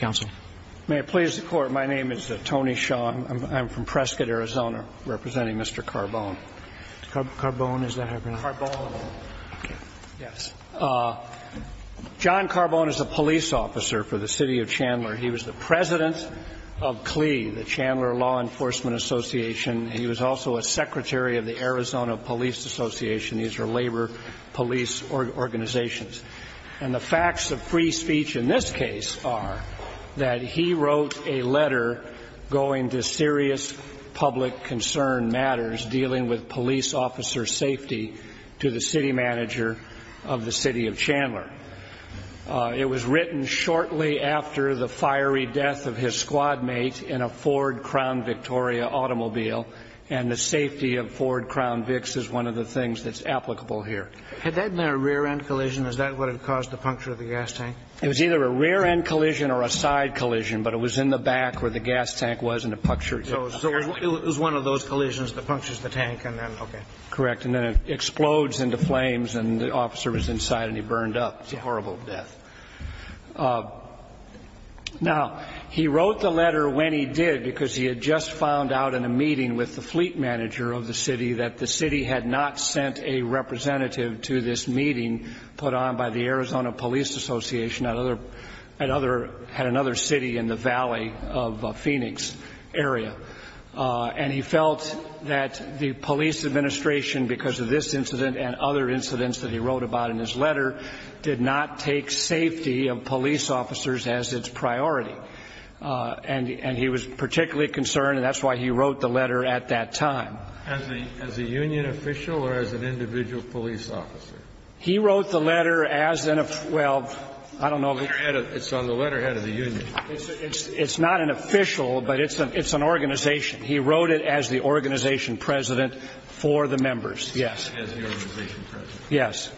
Court may please report My name is Tony Sean from Prescott, Arizona representing Mr. Carboun. John Carboun jis a police officer for the City of Chandler. He was the President of Association. These are labor police organizations. And the facts of free speech in this case are that he wrote a letter going to serious public concern matters dealing with police officer safety to the City Manager of the City of Chandler. It was written shortly after the fiery death of his squad mate in a Ford Crown Victoria automobile and the safety of the vehicle. He wrote the letter when he did because he had just found out in a meeting with the fleet manager of the city that the city had not sent a representative to this meeting put on by the Arizona Police Association at another city in the Valley of Phoenix area. And he felt that the police administration, because of this incident and other incidents that he wrote about in his letter, did not take safety of police officers as its priority. And he was particularly concerned, and that's why he wrote the letter at that time. As a union official or as an individual police officer? He wrote the letter as an, well, I don't know. It's on the letterhead of the union. It's not an official, but it's an organization. He wrote it as the organization president for the members, yes. As the organization president. Yes.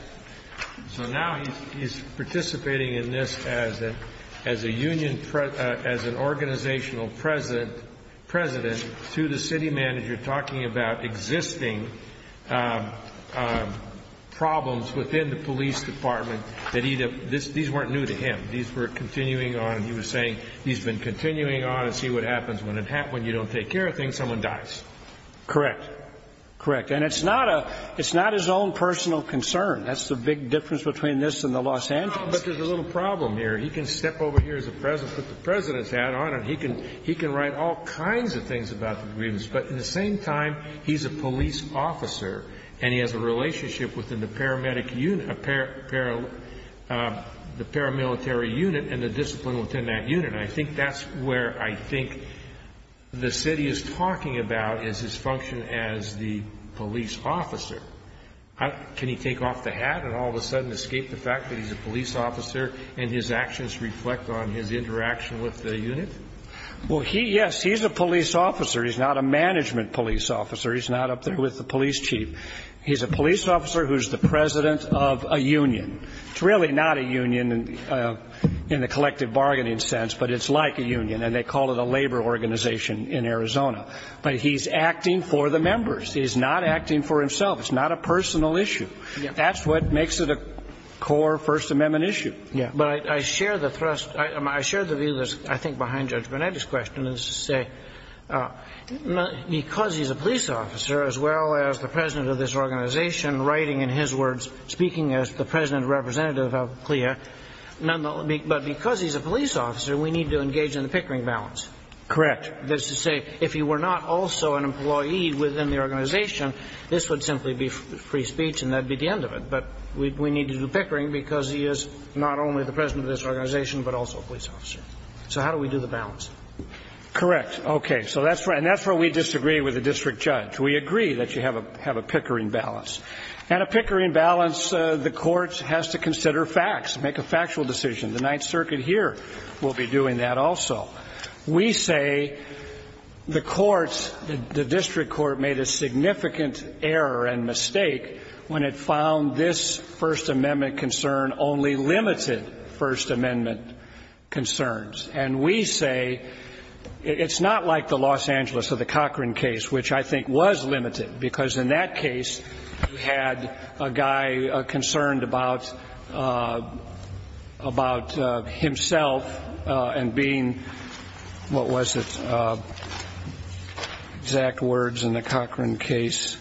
So now he's participating in this as an organizational president to the city manager talking about existing problems within the police department. These weren't new to him. These were continuing on. He was saying he's been continuing on to see what happens when you don't take care of things, someone dies. Correct. Correct. And it's not his own personal concern. That's the big difference between this and the Los Angeles case. But there's a little problem here. He can step over here as a president, put the president's hat on, and he can write all kinds of things about the grievance, but at the same time, he's a police officer, and he has a relationship within the paramilitary unit and the discipline within that unit. And I think that's where I think the city is talking about is his function as the police officer. Can he take off the hat and all of a sudden escape the fact that he's a police officer and his actions reflect on his interaction with the unit? Well, he, yes, he's a police officer. He's not a management police officer. He's not up there with the police chief. He's a police officer who's the president of a union. It's really not a union in the collective bargaining sense, but it's like a union, and they call it a labor organization in Arizona. But he's acting for the members. He's not acting for himself. It's not a personal issue. That's what makes it a core First Amendment issue. But I share the thrust. I share the view that's I think behind Judge Burnett's question is to say because he's a police officer as well as the president of this organization writing in his words, speaking as the president representative of CLIA, but because he's a police officer, we need to engage in a pickering balance. Correct. That's to say if he were not also an employee within the organization, this would simply be free speech and that would be the end of it. But we need to do pickering because he is not only the president of this organization, but also a police officer. So how do we do the balance? Correct. Okay. And that's where we disagree with the district judge. We agree that you have a pickering balance. And a pickering balance, the courts has to consider facts, make a factual decision. The Ninth Circuit here will be doing that also. We say the courts, the district court made a significant error and mistake when it found this First Amendment concern only limited First Amendment concerns. And we say it's not like the Los Angeles or the Cochran case, which I think was limited, because in that case you had a guy concerned about himself and being, what was it, exact words in the Cochran case.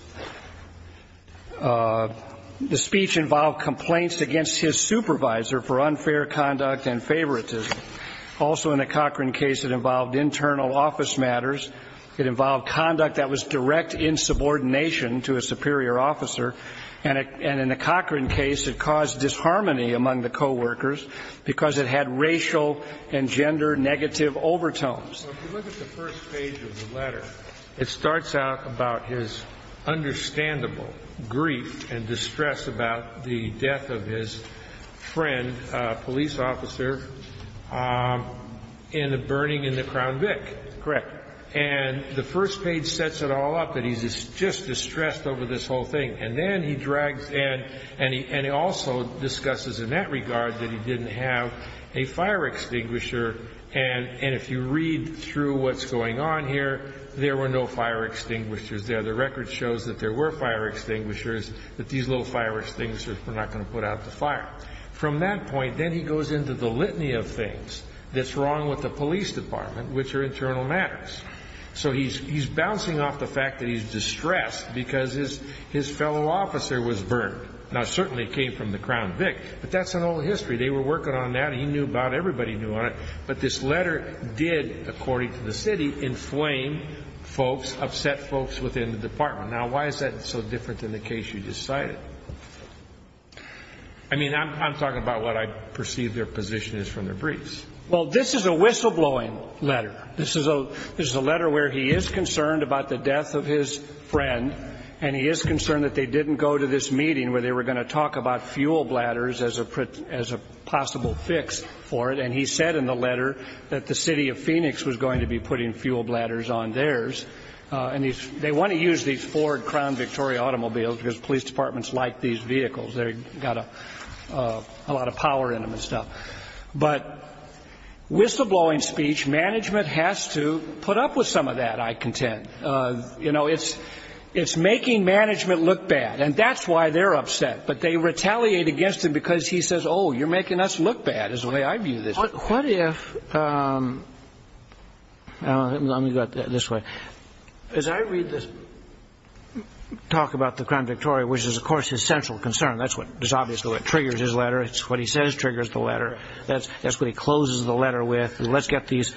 The speech involved complaints against his supervisor for unfair conduct and favoritism. Also in the Cochran case it involved internal office matters. It involved conduct that was direct insubordination to a superior officer. And in the Cochran case it caused disharmony among the coworkers because it had racial and gender negative overtones. So if you look at the first page of the letter, it starts out about his understandable grief and distress about the death of his friend, a police officer, in the burning in the Crown Vic. Correct. And the first page sets it all up that he's just distressed over this whole thing. And then he drags in, and he also discusses in that regard that he didn't have a fire extinguisher. And if you read through what's going on here, there were no fire extinguishers there. The record shows that there were fire extinguishers, but these little fire extinguishers were not going to put out the fire. From that point, then he goes into the litany of things that's wrong with the police department, which are internal matters. So he's bouncing off the fact that he's distressed because his fellow officer was burned. Now, it certainly came from the Crown Vic, but that's an old history. They were working on that. He knew about it. Everybody knew about it. But this letter did, according to the city, inflame folks, upset folks within the department. Now, why is that so different than the case you just cited? I mean, I'm talking about what I perceive their position is from their briefs. Well, this is a whistleblowing letter. This is a letter where he is concerned about the death of his friend, and he is concerned that they didn't go to this meeting where they were going to talk about fuel bladders as a possible fix for it. And he said in the letter that the city of Phoenix was going to be putting fuel bladders on theirs. And they want to use these Ford Crown Victoria automobiles because police departments like these vehicles. They've got a lot of power in them and stuff. But whistleblowing speech, management has to put up with some of that, I contend. You know, it's making management look bad, and that's why they're upset. But they retaliate against him because he says, oh, you're making us look bad is the way I view this. What if, let me go this way. As I read this talk about the Crown Victoria, which is, of course, his central concern, that's obviously what triggers his letter. It's what he says triggers the letter. That's what he closes the letter with. Let's get these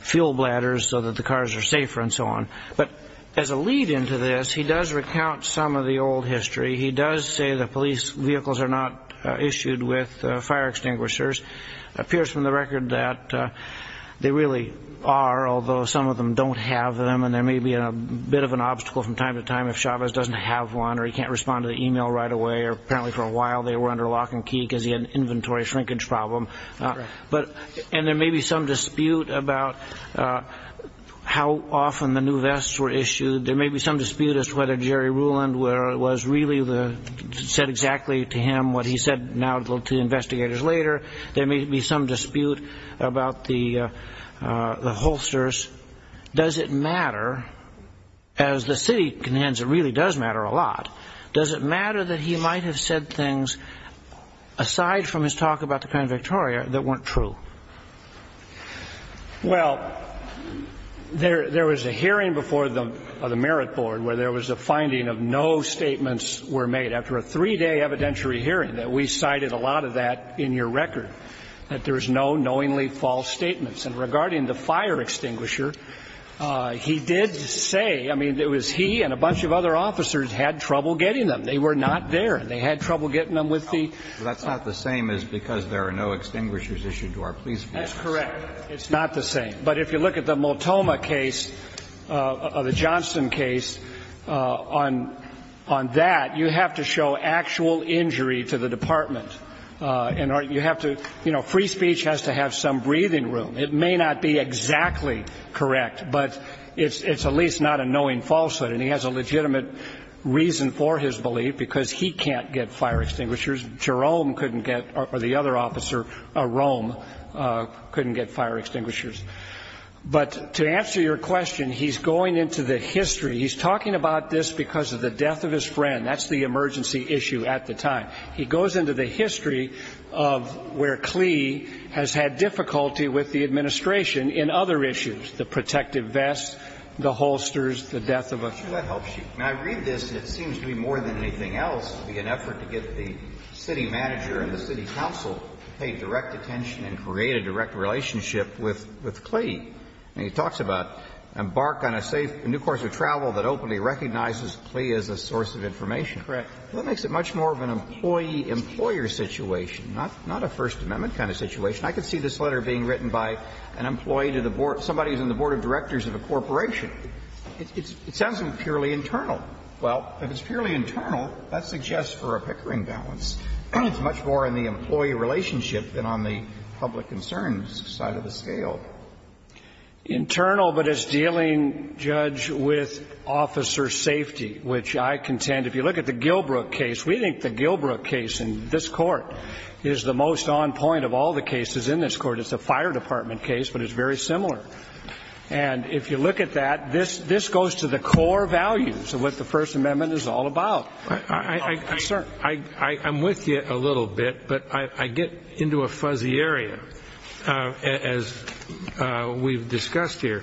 fuel bladders so that the cars are safer and so on. But as a lead into this, he does recount some of the old history. He does say that police vehicles are not issued with fire extinguishers. It appears from the record that they really are, although some of them don't have them. And there may be a bit of an obstacle from time to time if Chavez doesn't have one or he can't respond to the e-mail right away or apparently for a while they were under lock and key because he had an inventory shrinkage problem. And there may be some dispute about how often the new vests were issued. There may be some dispute as to whether Jerry Ruland was really the, said exactly to him what he said now to investigators later. There may be some dispute about the holsters. Does it matter, as the city really does matter a lot, does it matter that he might have said things aside from his talk about the Crown Victoria that weren't true? Well, there was a hearing before the Merit Board where there was a finding of no statements were made. After a three-day evidentiary hearing, we cited a lot of that in your record, that there's no knowingly false statements. And regarding the fire extinguisher, he did say, I mean, it was he and a bunch of other officers had trouble getting them. They were not there. They had trouble getting them with the ---- Well, that's not the same as because there are no extinguishers issued to our police force. That's correct. It's not the same. But if you look at the Multoma case, the Johnston case, on that, you have to show actual injury to the department. And you have to, you know, free speech has to have some breathing room. It may not be exactly correct, but it's at least not a knowing falsehood. And he has a legitimate reason for his belief, because he can't get fire extinguishers. Jerome couldn't get, or the other officer, Rome, couldn't get fire extinguishers. But to answer your question, he's going into the history. He's talking about this because of the death of his friend. That's the emergency issue at the time. He goes into the history of where Clee has had difficulty with the administration in other issues, the protective vests, the holsters, the death of a friend. That helps you. I mean, I read this, and it seems to me more than anything else to be an effort to get the city manager and the city council to pay direct attention and create a direct relationship with Clee. I mean, he talks about embark on a safe new course of travel that openly recognizes Clee as a source of information. Correct. That makes it much more of an employee-employer situation, not a First Amendment kind of situation. I could see this letter being written by an employee to the board of directors of a corporation. It sounds purely internal. Well, if it's purely internal, that suggests for a Pickering balance. It's much more in the employee relationship than on the public concerns side of the scale. Internal, but it's dealing, Judge, with officer safety, which I contend, if you look at the Gilbrook case, we think the Gilbrook case in this Court is the most on point of all the cases in this Court. It's a fire department case, but it's very similar. And if you look at that, this goes to the core values of what the First Amendment is all about. I'm with you a little bit, but I get into a fuzzy area, as we've discussed here.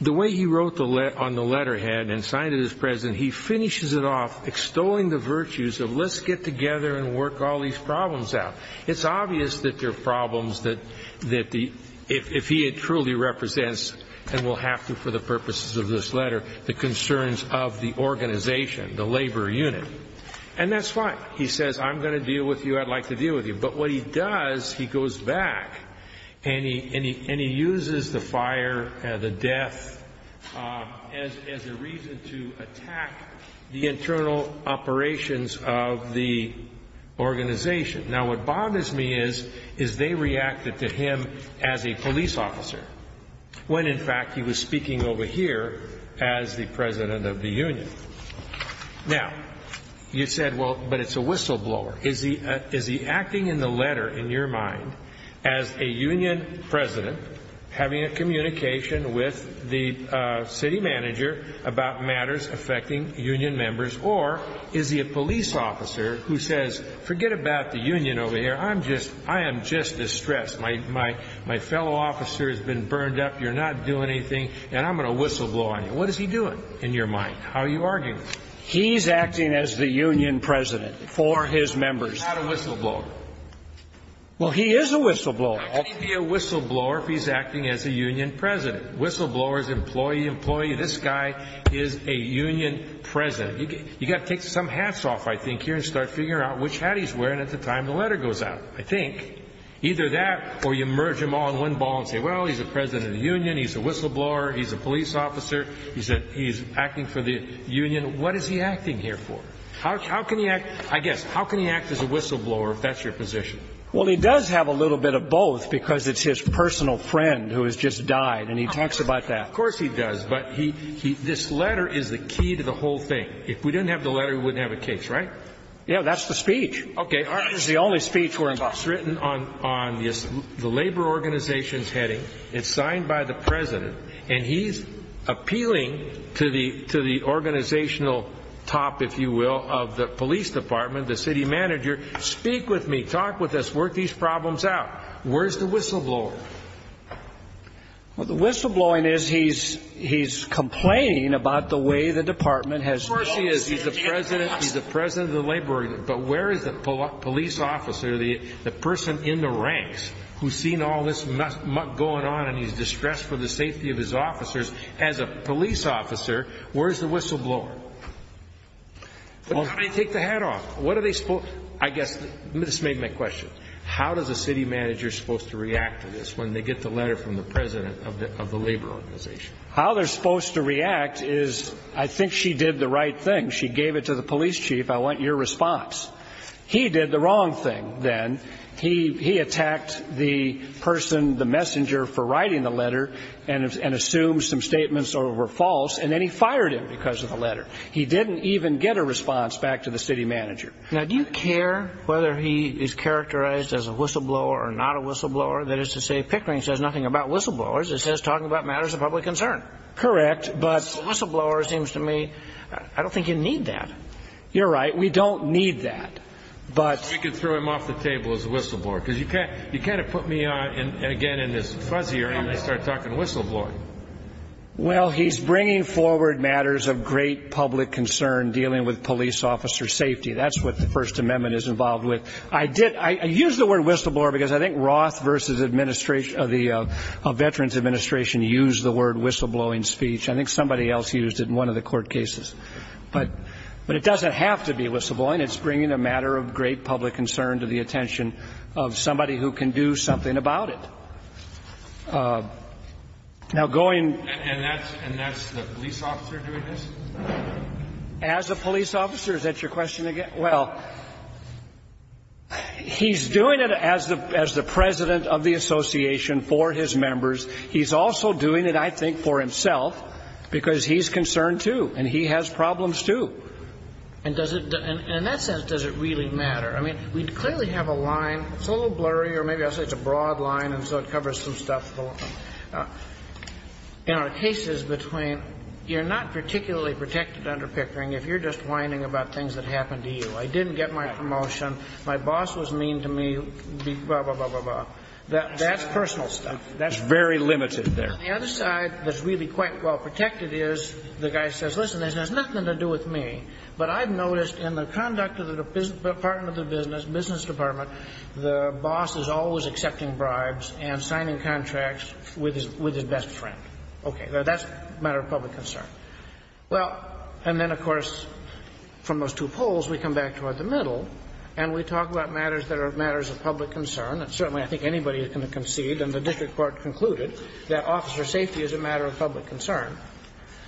The way he wrote on the letterhead and signed it as present, he finishes it off extolling the virtues of let's get together and work all these problems out. It's obvious that there are problems that if he truly represents, and will have to for the purposes of this letter, the concerns of the organization, the labor unit. And that's fine. He says, I'm going to deal with you. I'd like to deal with you. But what he does, he goes back and he uses the fire, the death, as a reason to attack the internal operations of the organization. Now, what bothers me is, is they reacted to him as a police officer, when in fact, he was speaking over here as the president of the union. Now, you said, well, but it's a whistleblower. Is he acting in the letter, in your mind, as a union president having a communication with the city manager about matters affecting union members, or is he a police officer who says, forget about the union over here. I'm just, I am just distressed. My, my, my fellow officer has been burned up. You're not doing anything. And I'm going to whistleblow on you. What is he doing in your mind? How are you arguing? He's acting as the union president for his members. He's not a whistleblower. Well, he is a whistleblower. How can he be a whistleblower if he's acting as a union president? Whistleblowers, employee, employee. This guy is a union president. You've got to take some hats off, I think, here and start figuring out which hat he's wearing at the time the letter goes out. I think. Either that or you merge them all in one ball and say, well, he's the president of the union. He's a whistleblower. He's a police officer. He's acting for the union. What is he acting here for? How can he act, I guess, how can he act as a whistleblower if that's your position? Well, he does have a little bit of both because it's his personal friend who has just died. And he talks about that. Of course he does. But this letter is the key to the whole thing. If we didn't have the letter, we wouldn't have a case, right? Yeah, that's the speech. Okay. It's the only speech we're involved in. It's written on the labor organization's heading. It's signed by the president. And he's appealing to the organizational top, if you will, of the police department, the city manager. Speak with me. Talk with us. Work these problems out. Where's the whistleblower? Well, the whistleblowing is he's complaining about the way the department has done. Of course he is. He's the president of the labor organization. But where is the police officer, the person in the ranks who's seen all this muck going on and he's distressed for the safety of his officers as a police officer? Where's the whistleblower? I mean, take the hat off. What are they supposed to do? I guess this may be my question. How is a city manager supposed to react to this when they get the letter from the president of the labor organization? How they're supposed to react is I think she did the right thing. She gave it to the police chief. I want your response. He did the wrong thing then. He attacked the person, the messenger, for writing the letter and assumed some statements were false, and then he fired him because of the letter. He didn't even get a response back to the city manager. Now, do you care whether he is characterized as a whistleblower or not a whistleblower? That is to say Pickering says nothing about whistleblowers. It says talking about matters of public concern. Correct. But a whistleblower seems to me, I don't think you need that. You're right. We don't need that. We could throw him off the table as a whistleblower because you kind of put me, again, in this fuzzy area and start talking whistleblowing. Well, he's bringing forward matters of great public concern dealing with police officer safety. That's what the First Amendment is involved with. I use the word whistleblower because I think Roth versus the Veterans Administration used the word whistleblowing speech. I think somebody else used it in one of the court cases. But it doesn't have to be whistleblowing. It's bringing a matter of great public concern to the attention of somebody who can do something about it. And that's the police officer doing this? As a police officer. Is that your question again? Well, he's doing it as the president of the association for his members. He's also doing it, I think, for himself because he's concerned, too, and he has problems, too. And in that sense, does it really matter? I mean, we clearly have a line. It's a little blurry, or maybe I'll say it's a broad line and so it covers some stuff. In our cases between you're not particularly protected under Pickering if you're just whining about things that happened to you. I didn't get my promotion. My boss was mean to me, blah, blah, blah, blah, blah. That's personal stuff. That's very limited there. The other side that's really quite well protected is the guy says, listen, this has nothing to do with me. But I've noticed in the conduct of the department of business, business department, the boss is always accepting bribes and signing contracts with his best friend. Okay. Now, that's a matter of public concern. Well, and then, of course, from those two polls, we come back toward the middle, and we talk about matters that are matters of public concern. And certainly I think anybody is going to concede, and the district court concluded, that officer safety is a matter of public concern.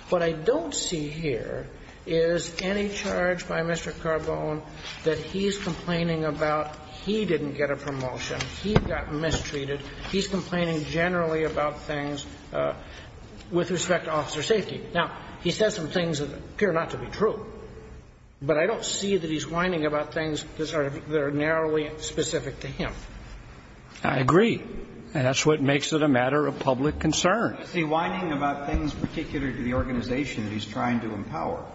What I don't see here is any charge by Mr. Carbone that he's complaining about he didn't get a promotion. He got mistreated. He's complaining generally about things with respect to officer safety. Now, he says some things that appear not to be true, but I don't see that he's whining about things that are narrowly specific to him. I agree. And that's what makes it a matter of public concern. But I don't see whining about things particular to the organization that he's trying to empower.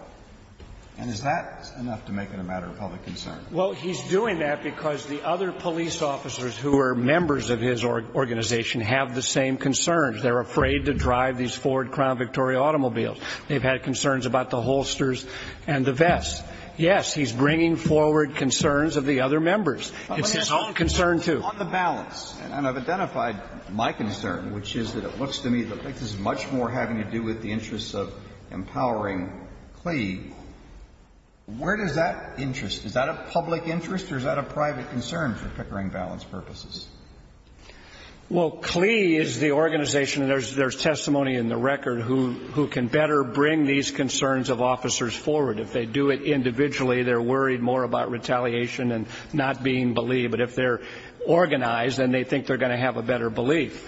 And is that enough to make it a matter of public concern? Well, he's doing that because the other police officers who are members of his organization have the same concerns. They're afraid to drive these Ford Crown Victoria automobiles. They've had concerns about the holsters and the vests. Yes, he's bringing forward concerns of the other members. It's his own concern, too. On the balance, and I've identified my concern, which is that it looks to me that this is much more having to do with the interests of empowering CLEA. Where does that interest? Is that a public interest or is that a private concern for Pickering Valance purposes? Well, CLEA is the organization, and there's testimony in the record, who can better bring these concerns of officers forward. If they do it individually, they're worried more about retaliation and not being believed. But if they're organized, then they think they're going to have a better belief.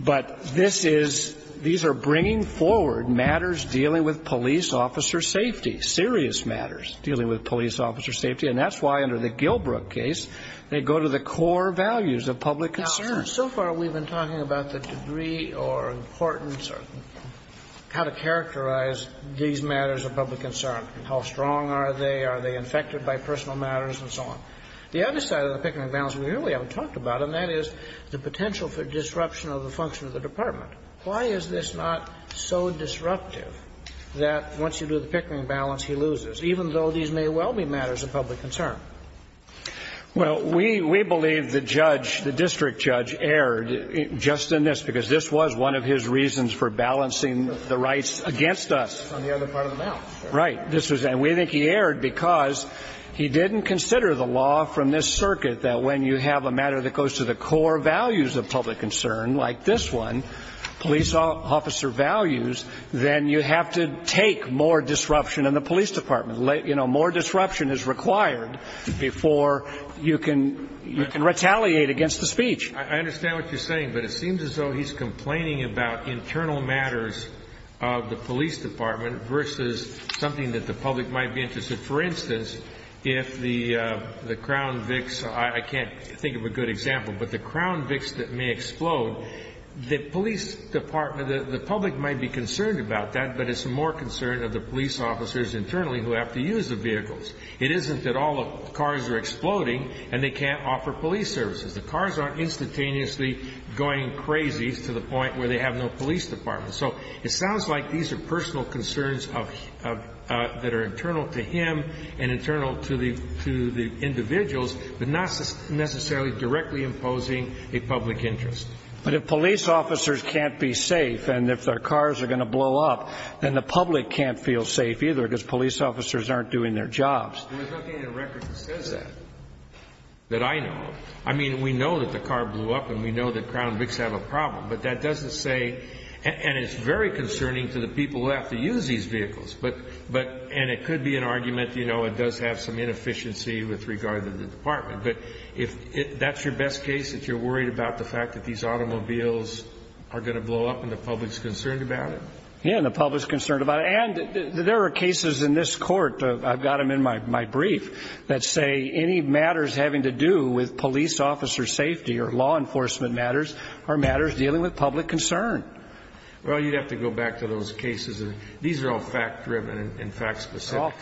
But this is these are bringing forward matters dealing with police officer safety, serious matters dealing with police officer safety. And that's why under the Gilbrook case, they go to the core values of public concern. Now, so far we've been talking about the degree or importance or how to characterize these matters of public concern. How strong are they? Are they infected by personal matters and so on? The other side of the Pickering Valance we really haven't talked about, and that is the potential for disruption of the function of the department. Why is this not so disruptive that once you do the Pickering Valance, he loses, even though these may well be matters of public concern? Well, we believe the judge, the district judge, erred just in this, because this was one of his reasons for balancing the rights against us. On the other part of the balance. Right. This was and we think he erred because he didn't consider the law from this circuit that when you have a matter that goes to the core values of public concern like this one, police officer values, then you have to take more disruption in the police department. You know, more disruption is required before you can you can retaliate against the speech. I understand what you're saying, but it seems as though he's complaining about internal matters of the police department versus something that the public might be interested. For instance, if the crown vix, I can't think of a good example, but the crown vix that may explode, the police department, the public might be concerned about that, but it's more concerned of the police officers internally who have to use the vehicles. It isn't that all the cars are exploding and they can't offer police services. The cars aren't instantaneously going crazy to the point where they have no police department. So it sounds like these are personal concerns of that are internal to him and internal to the to the individuals, but not necessarily directly imposing a public interest. But if police officers can't be safe and if their cars are going to blow up, then the public can't feel safe either because police officers aren't doing their jobs. There's nothing in the record that says that, that I know of. I mean, we know that the car blew up and we know that crown vix have a problem, but that doesn't say. And it's very concerning to the people who have to use these vehicles. But but and it could be an argument. You know, it does have some inefficiency with regard to the department. But if that's your best case, if you're worried about the fact that these automobiles are going to blow up and the public's concerned about it. Yeah, the public's concerned about it. And there are cases in this court. I've got them in my my brief that say any matters having to do with police officer safety or law enforcement matters are matters dealing with public concern. Well, you'd have to go back to those cases. These are all fact driven and fact specific.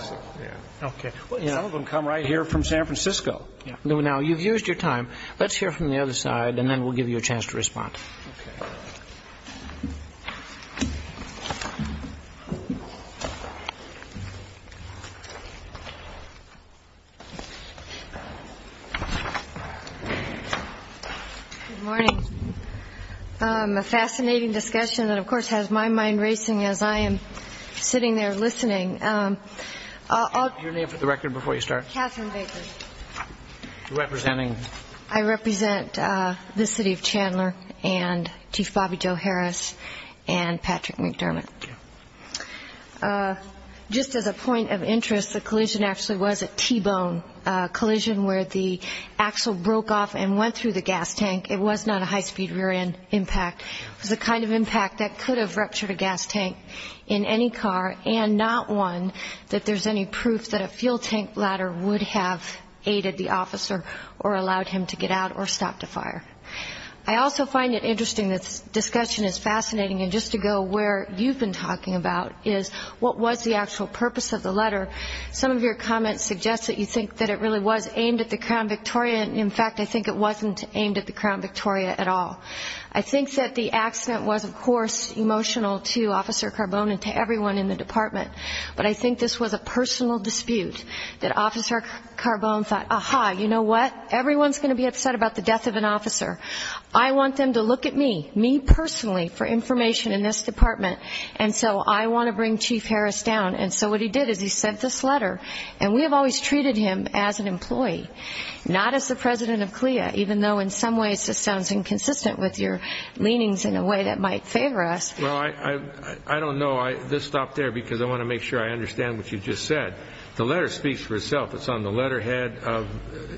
OK. Some of them come right here from San Francisco. Now, you've used your time. Let's hear from the other side and then we'll give you a chance to respond. Morning. A fascinating discussion that, of course, has my mind racing as I am sitting there listening. Your name for the record before you start. Catherine Baker. Representing. I represent the city of Chandler and Chief Bobby Joe Harris and Patrick McDermott. Just as a point of interest, the collision actually was a T-bone collision where the axle broke off and went through the gas tank. It was not a high speed rear end impact. It was the kind of impact that could have ruptured a gas tank in any car and not one that there's any proof that a fuel tank ladder would have aided the officer or allowed him to get out or stop the fire. I also find it interesting. This discussion is fascinating. And just to go where you've been talking about is what was the actual purpose of the letter. Some of your comments suggest that you think that it really was aimed at the Crown Victoria. In fact, I think it wasn't aimed at the Crown Victoria at all. I think that the accident was, of course, emotional to Officer Carbone and to everyone in the department. But I think this was a personal dispute that Officer Carbone thought, aha, you know what, everyone's going to be upset about the death of an officer. I want them to look at me, me personally, for information in this department. And so I want to bring Chief Harris down. And so what he did is he sent this letter. And we have always treated him as an employee, not as the president of CLIA, even though in some ways this sounds inconsistent with your leanings in a way that might favor us. Well, I don't know. Let's stop there because I want to make sure I understand what you just said. The letter speaks for itself. It's on the letterhead of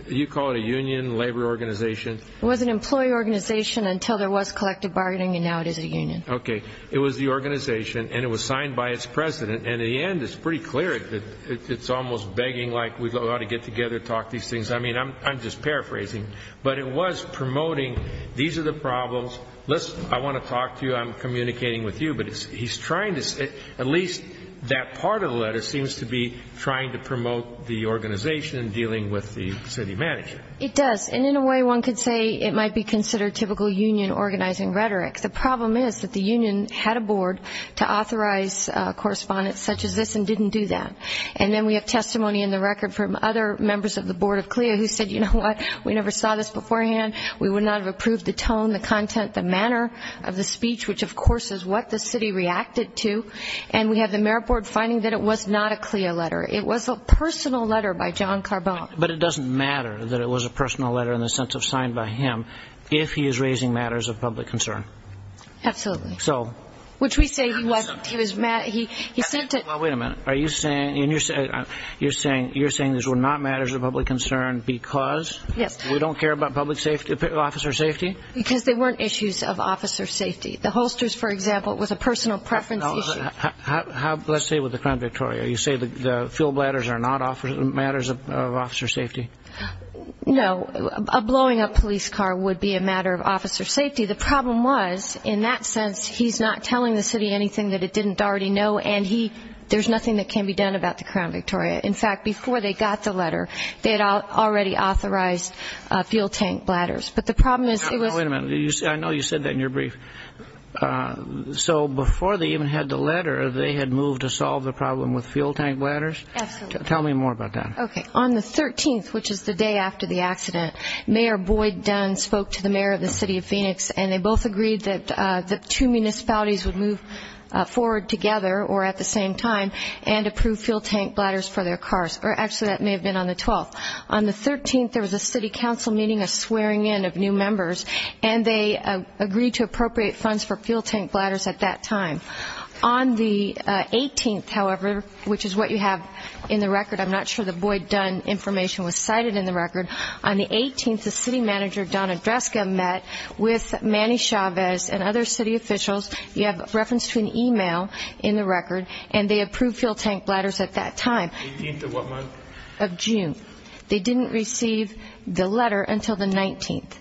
you call it a union, labor organization. It was an employee organization until there was collective bargaining, and now it is a union. Okay. It was the organization, and it was signed by its president. And in the end, it's pretty clear that it's almost begging like we ought to get together and talk these things. I mean, I'm just paraphrasing. But it was promoting these are the problems. Listen, I want to talk to you. I'm communicating with you. But he's trying to at least that part of the letter seems to be trying to promote the organization and dealing with the city manager. It does. And in a way, one could say it might be considered typical union organizing rhetoric. The problem is that the union had a board to authorize correspondence such as this and didn't do that. And then we have testimony in the record from other members of the board of CLIA who said, you know what, we never saw this beforehand. We would not have approved the tone, the content, the manner of the speech, which, of course, is what the city reacted to. And we have the mayor board finding that it was not a CLIA letter. It was a personal letter by John Carbone. But it doesn't matter that it was a personal letter in the sense of signed by him if he is raising matters of public concern. Absolutely. So. Which we say he sent it. Well, wait a minute. You're saying these were not matters of public concern because we don't care about public safety, officer safety? Because they weren't issues of officer safety. The holsters, for example, was a personal preference issue. Let's say with the Crown Victoria, you say the fuel bladders are not matters of officer safety? No. Blowing up a police car would be a matter of officer safety. The problem was, in that sense, he's not telling the city anything that it didn't already know. And there's nothing that can be done about the Crown Victoria. In fact, before they got the letter, they had already authorized fuel tank bladders. But the problem is it was. Wait a minute. I know you said that in your brief. So before they even had the letter, they had moved to solve the problem with fuel tank bladders? Absolutely. Tell me more about that. Okay. On the 13th, which is the day after the accident, Mayor Boyd Dunn spoke to the mayor of the city of Phoenix, and they both agreed that the two municipalities would move forward together or at the same time and approve fuel tank bladders for their cars. Actually, that may have been on the 12th. On the 13th, there was a city council meeting, a swearing in of new members, and they agreed to appropriate funds for fuel tank bladders at that time. On the 18th, however, which is what you have in the record. I'm not sure the Boyd Dunn information was cited in the record. On the 18th, the city manager, Donna Dreska, met with Manny Chavez and other city officials. You have reference to an e-mail in the record, and they approved fuel tank bladders at that time. The 18th of what month? Of June. They didn't receive the letter until the 19th.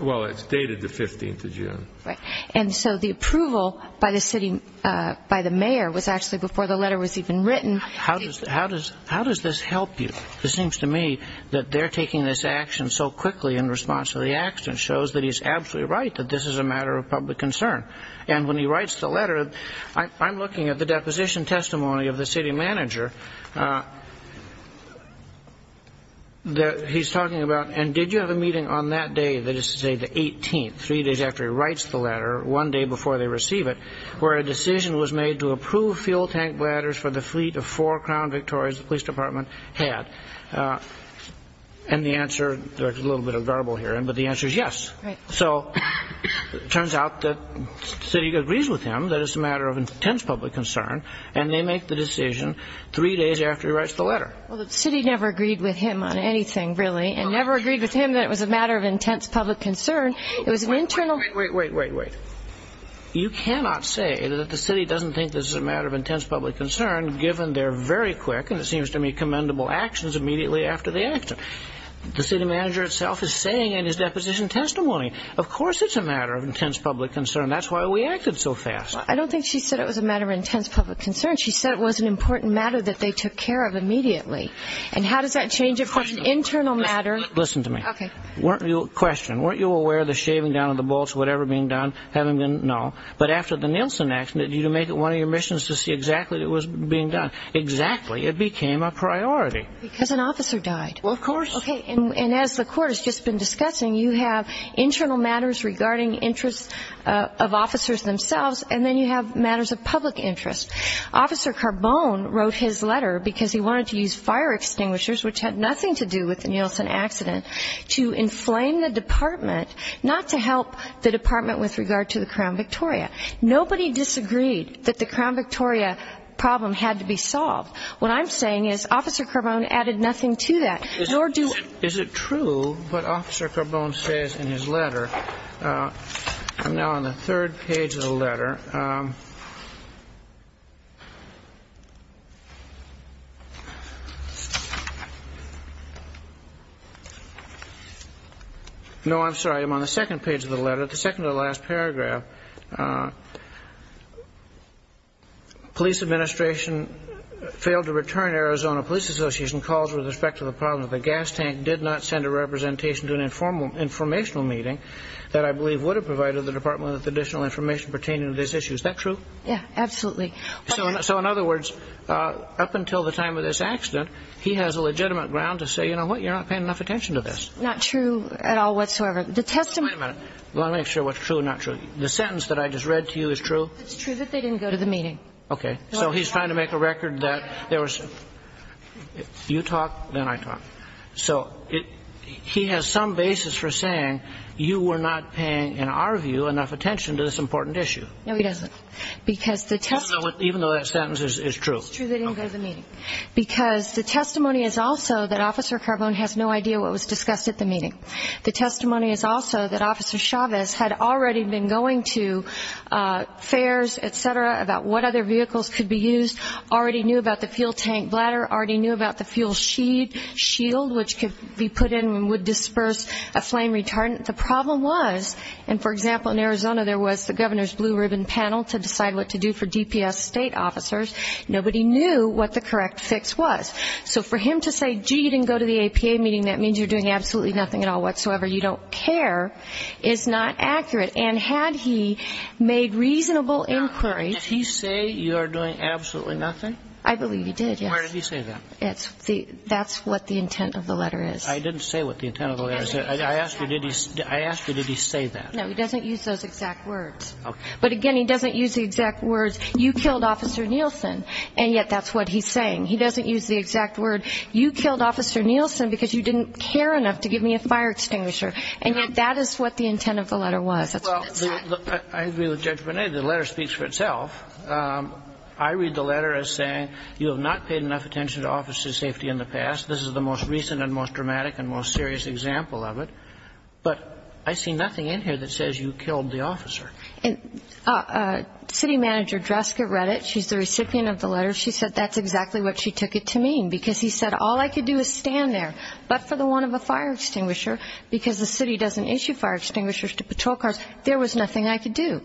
Well, it's dated the 15th of June. Right. And so the approval by the mayor was actually before the letter was even written. How does this help you? It seems to me that they're taking this action so quickly in response to the accident shows that he's absolutely right that this is a matter of public concern. And when he writes the letter, I'm looking at the deposition testimony of the city manager. He's talking about, and did you have a meeting on that day, that is to say the 18th, three days after he writes the letter, one day before they receive it, where a decision was made to approve fuel tank bladders for the fleet of four Crown Victorias the police department had? And the answer, there's a little bit of garble here, but the answer is yes. Right. So it turns out that the city agrees with him that it's a matter of intense public concern, and they make the decision three days after he writes the letter. Well, the city never agreed with him on anything, really, and never agreed with him that it was a matter of intense public concern. It was an internal. Wait, wait, wait, wait, wait. You cannot say that the city doesn't think this is a matter of intense public concern given they're very quick and it seems to me commendable actions immediately after the accident. The city manager itself is saying in his deposition testimony, of course it's a matter of intense public concern. That's why we acted so fast. I don't think she said it was a matter of intense public concern. She said it was an important matter that they took care of immediately. And how does that change it from an internal matter? Listen to me. Okay. Question. Weren't you aware of the shaving down of the bolts, whatever being done? No. But after the Nielsen accident, did you make it one of your missions to see exactly what was being done? Exactly. It became a priority. Because an officer died. Well, of course. Okay. And as the court has just been discussing, you have internal matters regarding interests of officers themselves, and then you have matters of public interest. Officer Carbone wrote his letter because he wanted to use fire extinguishers, which had nothing to do with the Nielsen accident, to inflame the department not to help the department with regard to the Crown Victoria. Nobody disagreed that the Crown Victoria problem had to be solved. What I'm saying is Officer Carbone added nothing to that, nor do we. Is it true what Officer Carbone says in his letter? I'm now on the third page of the letter. No, I'm sorry. I'm on the second page of the letter, the second to the last paragraph. Police administration failed to return Arizona Police Association calls with respect to the problem that the gas tank did not send a representation to an informational meeting that I believe would have provided the department with additional information pertaining to this issue. Is that true? Yeah, absolutely. So in other words, up until the time of this accident, he has a legitimate ground to say, you know what, you're not paying enough attention to this. Not true at all whatsoever. The testimony ñ Wait a minute. Let me make sure what's true and not true. The sentence that I just read to you is true? It's true that they didn't go to the meeting. Okay. So he's trying to make a record that there was ñ you talk, then I talk. So he has some basis for saying you were not paying, in our view, enough attention to this important issue. No, he doesn't. Because the testimony ñ Even though that sentence is true. It's true they didn't go to the meeting. Because the testimony is also that Officer Carbone has no idea what was discussed at the meeting. The testimony is also that Officer Chavez had already been going to fairs, et cetera, about what other vehicles could be used, already knew about the fuel tank bladder, already knew about the fuel shield, which could be put in and would disperse a flame retardant. The problem was, and for example, in Arizona there was the governor's blue ribbon panel to decide what to do for DPS state officers. Nobody knew what the correct fix was. So for him to say, gee, you didn't go to the APA meeting, that means you're doing absolutely nothing at all whatsoever, you don't care, is not accurate. And had he made reasonable inquiry ñ Now, did he say you are doing absolutely nothing? I believe he did, yes. Where did he say that? That's what the intent of the letter is. I didn't say what the intent of the letter is. I asked you, did he say that? No, he doesn't use those exact words. Okay. But again, he doesn't use the exact words, you killed Officer Nielsen. And yet that's what he's saying. He doesn't use the exact word, you killed Officer Nielsen because you didn't care enough to give me a fire extinguisher. And yet that is what the intent of the letter was. That's what it said. Well, I agree with Judge Bonet. The letter speaks for itself. I read the letter as saying you have not paid enough attention to officer's safety in the past. This is the most recent and most dramatic and most serious example of it. But I see nothing in here that says you killed the officer. And city manager Dreska read it. She's the recipient of the letter. She said that's exactly what she took it to mean because he said all I could do is stand there. But for the want of a fire extinguisher, because the city doesn't issue fire extinguishers to patrol cars, there was nothing I could do.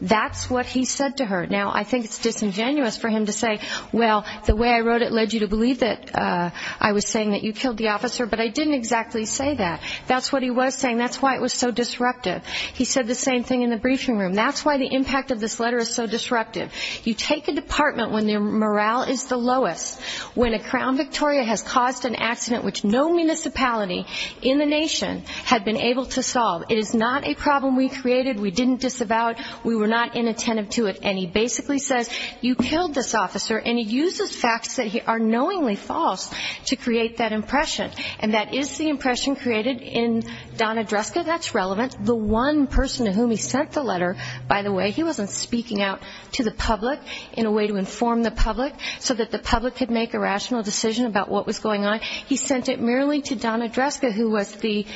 That's what he said to her. Now, I think it's disingenuous for him to say, well, the way I wrote it led you to believe that I was saying that you killed the officer, but I didn't exactly say that. That's what he was saying. That's why it was so disruptive. He said the same thing in the briefing room. That's why the impact of this letter is so disruptive. You take a department when their morale is the lowest, when a Crown Victoria has caused an accident which no municipality in the nation had been able to solve. It is not a problem we created. We didn't disavow it. We were not inattentive to it. And he basically says you killed this officer, and he uses facts that are knowingly false to create that impression. And that is the impression created in Donna Dreska. That's relevant. The one person to whom he sent the letter, by the way, he wasn't speaking out to the public in a way to inform the public so that the public could make a rational decision about what was going on. He sent it merely to Donna Dreska, who was the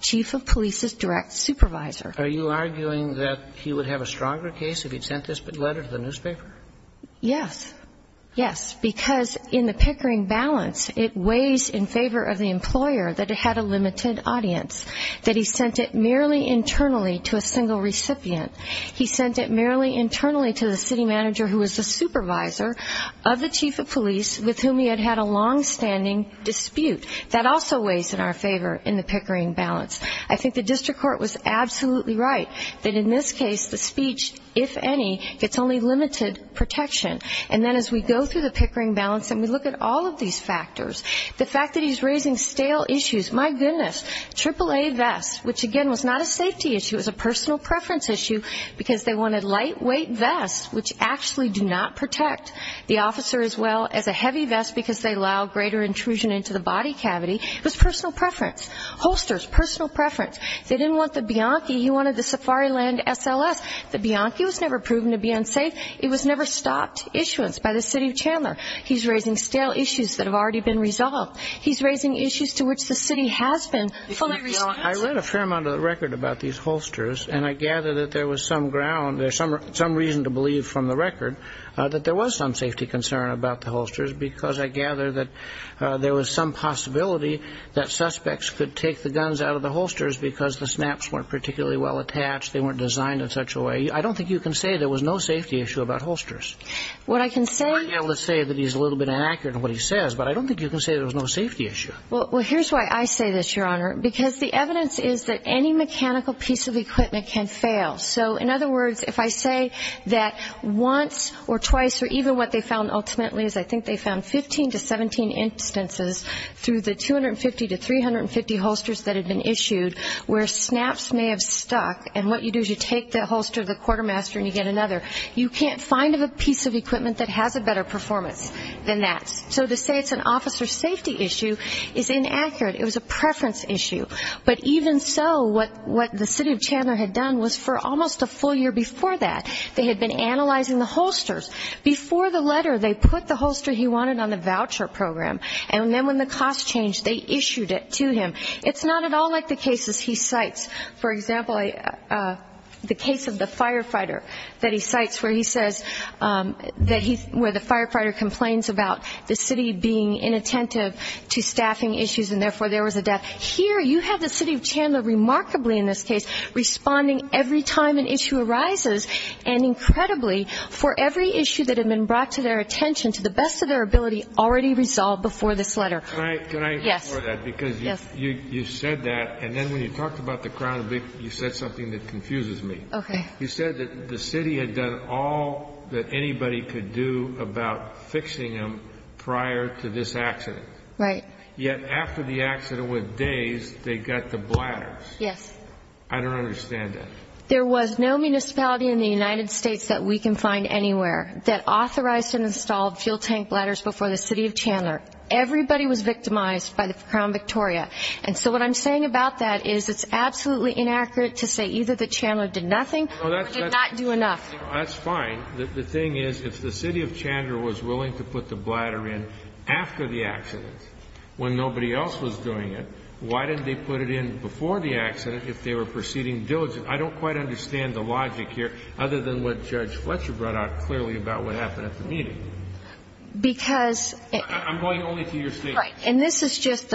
chief of police's direct supervisor. Are you arguing that he would have a stronger case if he'd sent this letter to the newspaper? Yes. Yes, because in the Pickering balance, it weighs in favor of the employer that it had a limited audience, that he sent it merely internally to a single recipient. He sent it merely internally to the city manager who was the supervisor of the chief of police with whom he had had a longstanding dispute. That also weighs in our favor in the Pickering balance. I think the district court was absolutely right that in this case the speech, if any, gets only limited protection. And then as we go through the Pickering balance and we look at all of these factors, the fact that he's raising stale issues. My goodness, AAA vests, which again was not a safety issue, it was a personal preference issue, because they wanted lightweight vests which actually do not protect the officer as well as a heavy vest because they allow greater intrusion into the body cavity. It was personal preference. Holsters, personal preference. They didn't want the Bianchi, he wanted the Safariland SLS. The Bianchi was never proven to be unsafe. It was never stopped issuance by the city of Chandler. He's raising stale issues that have already been resolved. He's raising issues to which the city has been fully responsible. I read a fair amount of the record about these holsters, and I gather that there was some ground, some reason to believe from the record that there was some safety concern about the holsters because I gather that there was some possibility that suspects could take the guns out of the holsters because the snaps weren't particularly well attached, they weren't designed in such a way. I don't think you can say there was no safety issue about holsters. Let's say that he's a little bit inaccurate in what he says, but I don't think you can say there was no safety issue. Well, here's why I say this, Your Honor, because the evidence is that any mechanical piece of equipment can fail. So in other words, if I say that once or twice or even what they found ultimately is I think they found 15 to 17 instances through the 250 to 350 holsters that had been issued where snaps may have stuck, and what you do is you take the holster of the quartermaster and you get another. You can't find a piece of equipment that has a better performance than that. So to say it's an officer safety issue is inaccurate. It was a preference issue. But even so, what the city of Chandler had done was for almost a full year before that, they had been analyzing the holsters. Before the letter, they put the holster he wanted on the voucher program, and then when the cost changed, they issued it to him. It's not at all like the cases he cites. For example, the case of the firefighter that he cites where he says that he – where the firefighter complains about the city being inattentive to staffing issues and therefore there was a death. Here you have the city of Chandler remarkably in this case responding every time an issue arises and incredibly for every issue that had been brought to their attention to the best of their ability already resolved before this letter. Yes. Because you said that, and then when you talked about the Crown, you said something that confuses me. Okay. You said that the city had done all that anybody could do about fixing them prior to this accident. Right. Yet after the accident with days, they got the bladders. Yes. I don't understand that. There was no municipality in the United States that we can find anywhere that authorized and installed fuel tank bladders before the city of Chandler. Everybody was victimized by the Crown Victoria. And so what I'm saying about that is it's absolutely inaccurate to say either the Chandler did nothing or did not do enough. That's fine. The thing is if the city of Chandler was willing to put the bladder in after the accident when nobody else was doing it, why didn't they put it in before the accident if they were proceeding diligently? I don't quite understand the logic here other than what Judge Fletcher brought out clearly about what happened at the meeting. I'm going only to your statement. Right. And this is just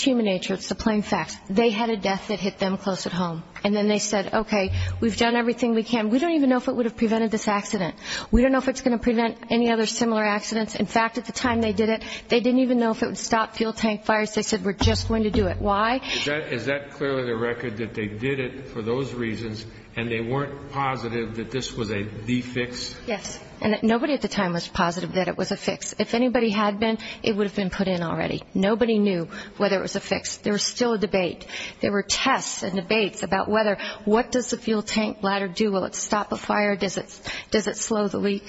human nature. It's the plain facts. They had a death that hit them close at home. And then they said, okay, we've done everything we can. We don't even know if it would have prevented this accident. We don't know if it's going to prevent any other similar accidents. In fact, at the time they did it, they didn't even know if it would stop fuel tank fires. They said we're just going to do it. Why? Is that clearly the record that they did it for those reasons and they weren't positive that this was a de-fix? Yes. And nobody at the time was positive that it was a fix. If anybody had been, it would have been put in already. Nobody knew whether it was a fix. There was still a debate. There were tests and debates about whether, what does the fuel tank ladder do? Will it stop a fire? Does it slow the leak?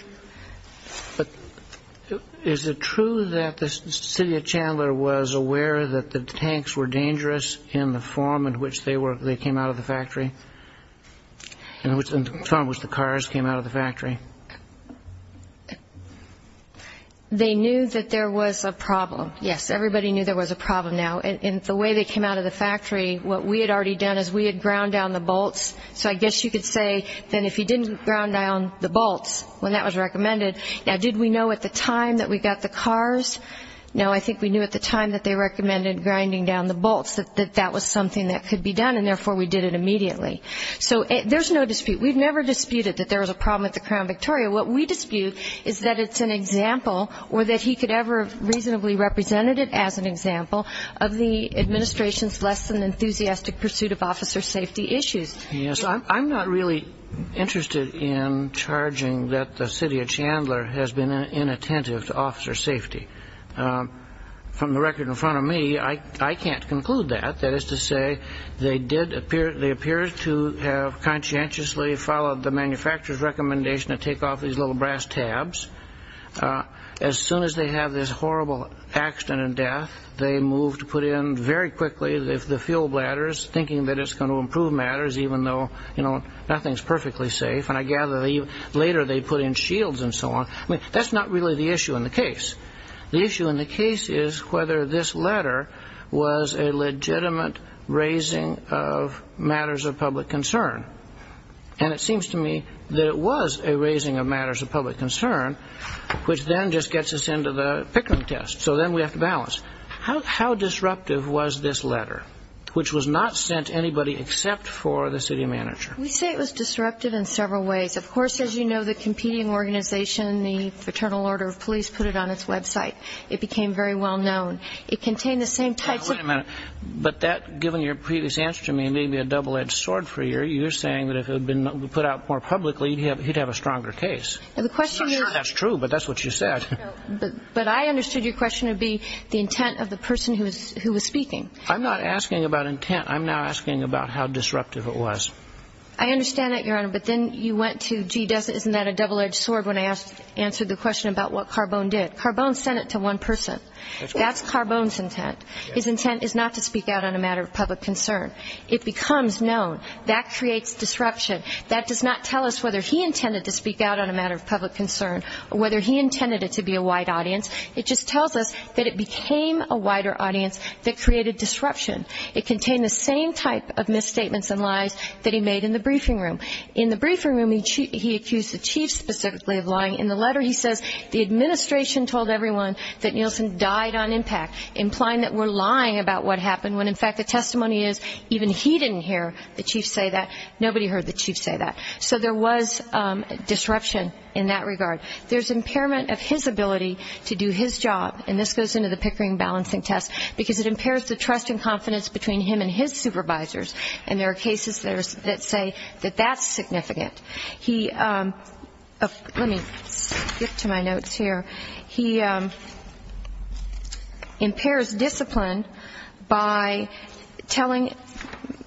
But is it true that the city of Chandler was aware that the tanks were dangerous in the form in which they came out of the factory? In the form in which the cars came out of the factory. They knew that there was a problem. Yes, everybody knew there was a problem now. In the way they came out of the factory, what we had already done is we had ground down the bolts. So I guess you could say that if you didn't ground down the bolts when that was recommended. Now, did we know at the time that we got the cars? No, I think we knew at the time that they recommended grinding down the bolts, that that was something that could be done, and therefore we did it immediately. So there's no dispute. We've never disputed that there was a problem at the Crown Victoria. What we dispute is that it's an example or that he could ever reasonably represented it as an example of the administration's less than enthusiastic pursuit of officer safety issues. Yes, I'm not really interested in charging that the city of Chandler has been inattentive to officer safety. From the record in front of me, I can't conclude that. That is to say, they did appear to have conscientiously followed the manufacturer's recommendation to take off these little brass tabs. As soon as they have this horrible accident and death, they move to put in very quickly the fuel bladders, thinking that it's going to improve matters even though, you know, nothing's perfectly safe. And I gather later they put in shields and so on. I mean, that's not really the issue in the case. The issue in the case is whether this letter was a legitimate raising of matters of public concern. And it seems to me that it was a raising of matters of public concern, which then just gets us into the Pickering test, so then we have to balance. How disruptive was this letter, which was not sent to anybody except for the city manager? We say it was disruptive in several ways. Of course, as you know, the competing organization, the Fraternal Order of Police, put it on its Web site. It became very well known. It contained the same types of- Wait a minute. But that, given your previous answer to me, may be a double-edged sword for you. You're saying that if it had been put out more publicly, he'd have a stronger case. The question is- I'm not sure that's true, but that's what you said. But I understood your question would be the intent of the person who was speaking. I'm not asking about intent. I'm now asking about how disruptive it was. I understand that, Your Honor. But then you went to, gee, isn't that a double-edged sword when I answered the question about what Carbone did. Carbone sent it to one person. That's Carbone's intent. His intent is not to speak out on a matter of public concern. It becomes known. That creates disruption. That does not tell us whether he intended to speak out on a matter of public concern or whether he intended it to be a wide audience. It just tells us that it became a wider audience that created disruption. It contained the same type of misstatements and lies that he made in the briefing room. In the briefing room, he accused the chief specifically of lying. In the letter, he says the administration told everyone that Nielsen died on impact, implying that we're lying about what happened when, in fact, the testimony is even he didn't hear the chief say that. Nobody heard the chief say that. So there was disruption in that regard. There's impairment of his ability to do his job, and this goes into the Pickering balancing test, because it impairs the trust and confidence between him and his supervisors, and there are cases that say that that's significant. Let me skip to my notes here. He impairs discipline by telling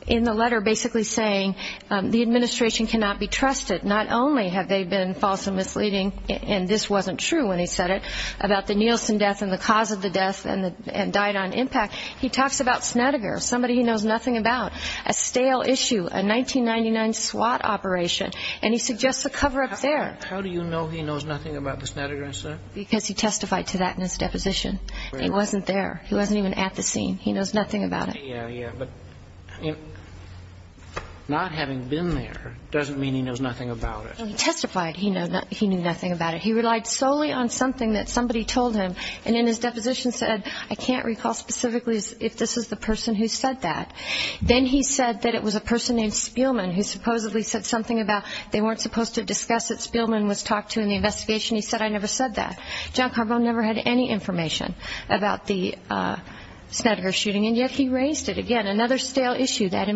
in the letter basically saying the administration cannot be trusted. Not only have they been false and misleading, and this wasn't true when he said it, about the Nielsen death and the cause of the death and died on impact, he talks about Snedeker, somebody he knows nothing about, a stale issue, a 1999 SWAT operation, and he suggests a cover-up there. How do you know he knows nothing about the Snedeker incident? Because he testified to that in his deposition. He wasn't there. He wasn't even at the scene. He knows nothing about it. Yeah, yeah. But not having been there doesn't mean he knows nothing about it. He testified he knew nothing about it. He relied solely on something that somebody told him, and in his deposition said, I can't recall specifically if this is the person who said that. Then he said that it was a person named Spielman who supposedly said something about they weren't supposed to discuss it. Spielman was talked to in the investigation. He said, I never said that. John Carbone never had any information about the Snedeker shooting, and yet he raised it again. Another stale issue. That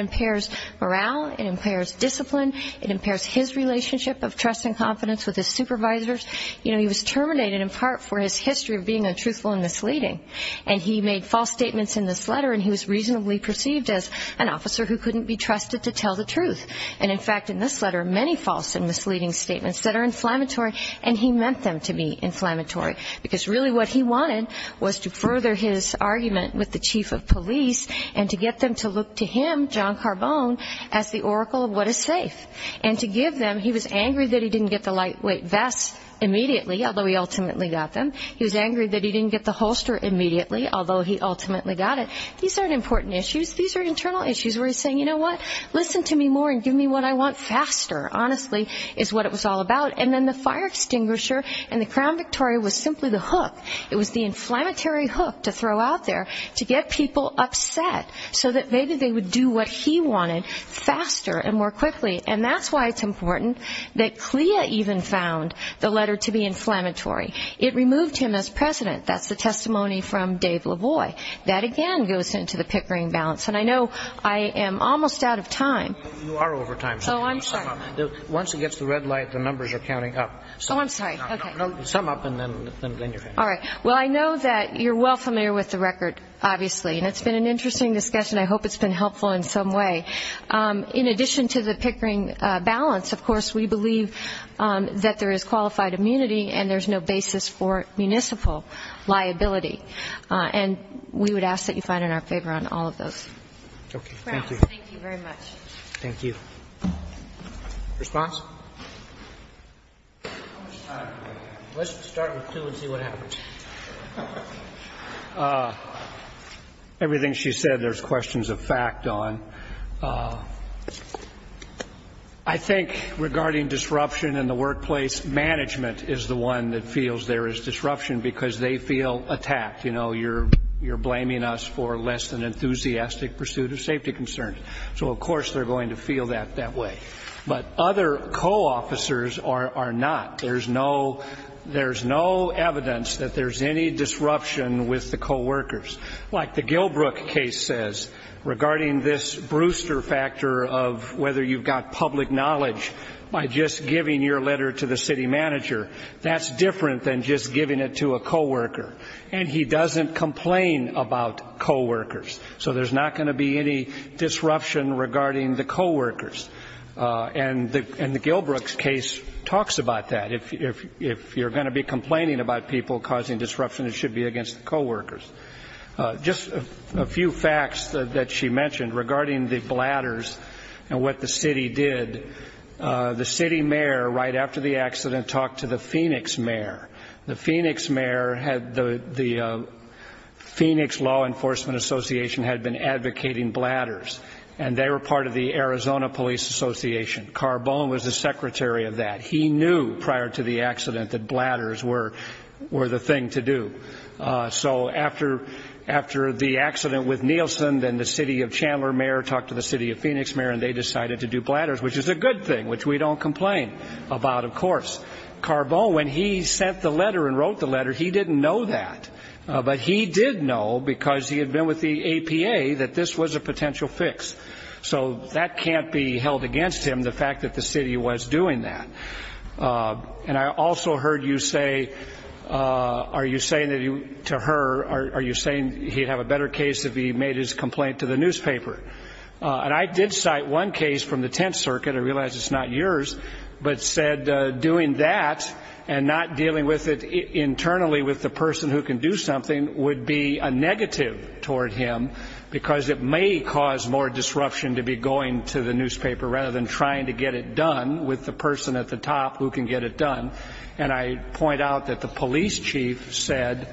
impairs morale. It impairs discipline. It impairs his relationship of trust and confidence with his supervisors. You know, he was terminated in part for his history of being untruthful and misleading, and he made false statements in this letter, and he was reasonably perceived as an officer who couldn't be trusted to tell the truth. And, in fact, in this letter, many false and misleading statements that are inflammatory, and he meant them to be inflammatory, because really what he wanted was to further his argument with the chief of police and to get them to look to him, John Carbone, as the oracle of what is safe. And to give them, he was angry that he didn't get the lightweight vest immediately, although he ultimately got them. He was angry that he didn't get the holster immediately, although he ultimately got it. These aren't important issues. These are internal issues where he's saying, you know what, listen to me more and give me what I want faster, honestly, is what it was all about. It was the inflammatory hook to throw out there to get people upset so that maybe they would do what he wanted faster and more quickly. And that's why it's important that CLIA even found the letter to be inflammatory. It removed him as president. That's the testimony from Dave LaVoie. That, again, goes into the Pickering balance. And I know I am almost out of time. You are over time. Oh, I'm sorry. Once it gets to red light, the numbers are counting up. Oh, I'm sorry. No, sum up and then you're finished. All right. Well, I know that you're well familiar with the record, obviously, and it's been an interesting discussion. I hope it's been helpful in some way. In addition to the Pickering balance, of course, we believe that there is qualified immunity and there's no basis for municipal liability. And we would ask that you find it in our favor on all of those. Okay. Thank you. Thank you very much. Thank you. Response? How much time do we have? Let's start with two and see what happens. Everything she said, there's questions of fact on. I think regarding disruption in the workplace, management is the one that feels there is disruption because they feel attacked. You know, you're blaming us for less than enthusiastic pursuit of safety concerns. So, of course, they're going to feel that that way. But other co-officers are not. There's no evidence that there's any disruption with the co-workers. Like the Gilbrook case says, regarding this Brewster factor of whether you've got public knowledge by just giving your letter to the city manager, that's different than just giving it to a co-worker. And he doesn't complain about co-workers. So there's not going to be any disruption regarding the co-workers. And the Gilbrook case talks about that. If you're going to be complaining about people causing disruption, it should be against the co-workers. Just a few facts that she mentioned regarding the bladders and what the city did. The city mayor, right after the accident, talked to the Phoenix mayor. The Phoenix law enforcement association had been advocating bladders, and they were part of the Arizona Police Association. Carbone was the secretary of that. He knew prior to the accident that bladders were the thing to do. So after the accident with Nielsen, then the city of Chandler mayor talked to the city of Phoenix mayor, and they decided to do bladders, which is a good thing, which we don't complain about, of course. Carbone, when he sent the letter and wrote the letter, he didn't know that. But he did know, because he had been with the APA, that this was a potential fix. So that can't be held against him, the fact that the city was doing that. And I also heard you say, are you saying to her, are you saying he'd have a better case if he made his complaint to the newspaper? And I did cite one case from the Tenth Circuit, I realize it's not yours, but said doing that and not dealing with it internally with the person who can do something would be a negative toward him, because it may cause more disruption to be going to the newspaper rather than trying to get it done with the person at the top who can get it done. And I point out that the police chief said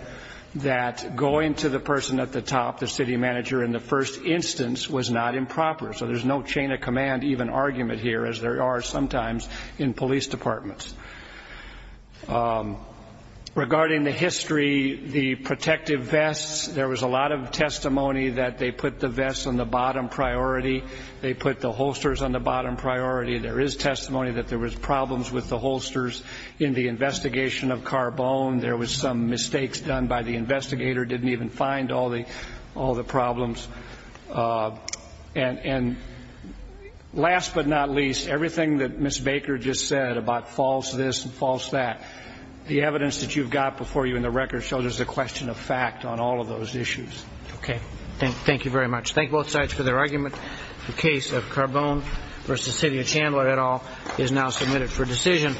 that going to the person at the top, the city manager in the first instance, was not improper. So there's no chain of command even argument here, as there are sometimes in police departments. Regarding the history, the protective vests, there was a lot of testimony that they put the vests on the bottom priority. They put the holsters on the bottom priority. There is testimony that there was problems with the holsters in the investigation of Carbone. There was some mistakes done by the investigator, didn't even find all the problems. And last but not least, everything that Ms. Baker just said about false this and false that, the evidence that you've got before you in the record shows there's a question of fact on all of those issues. Okay. Thank you very much. Thank both sides for their argument. The case of Carbone v. Cecilia Chandler et al. is now submitted for decision.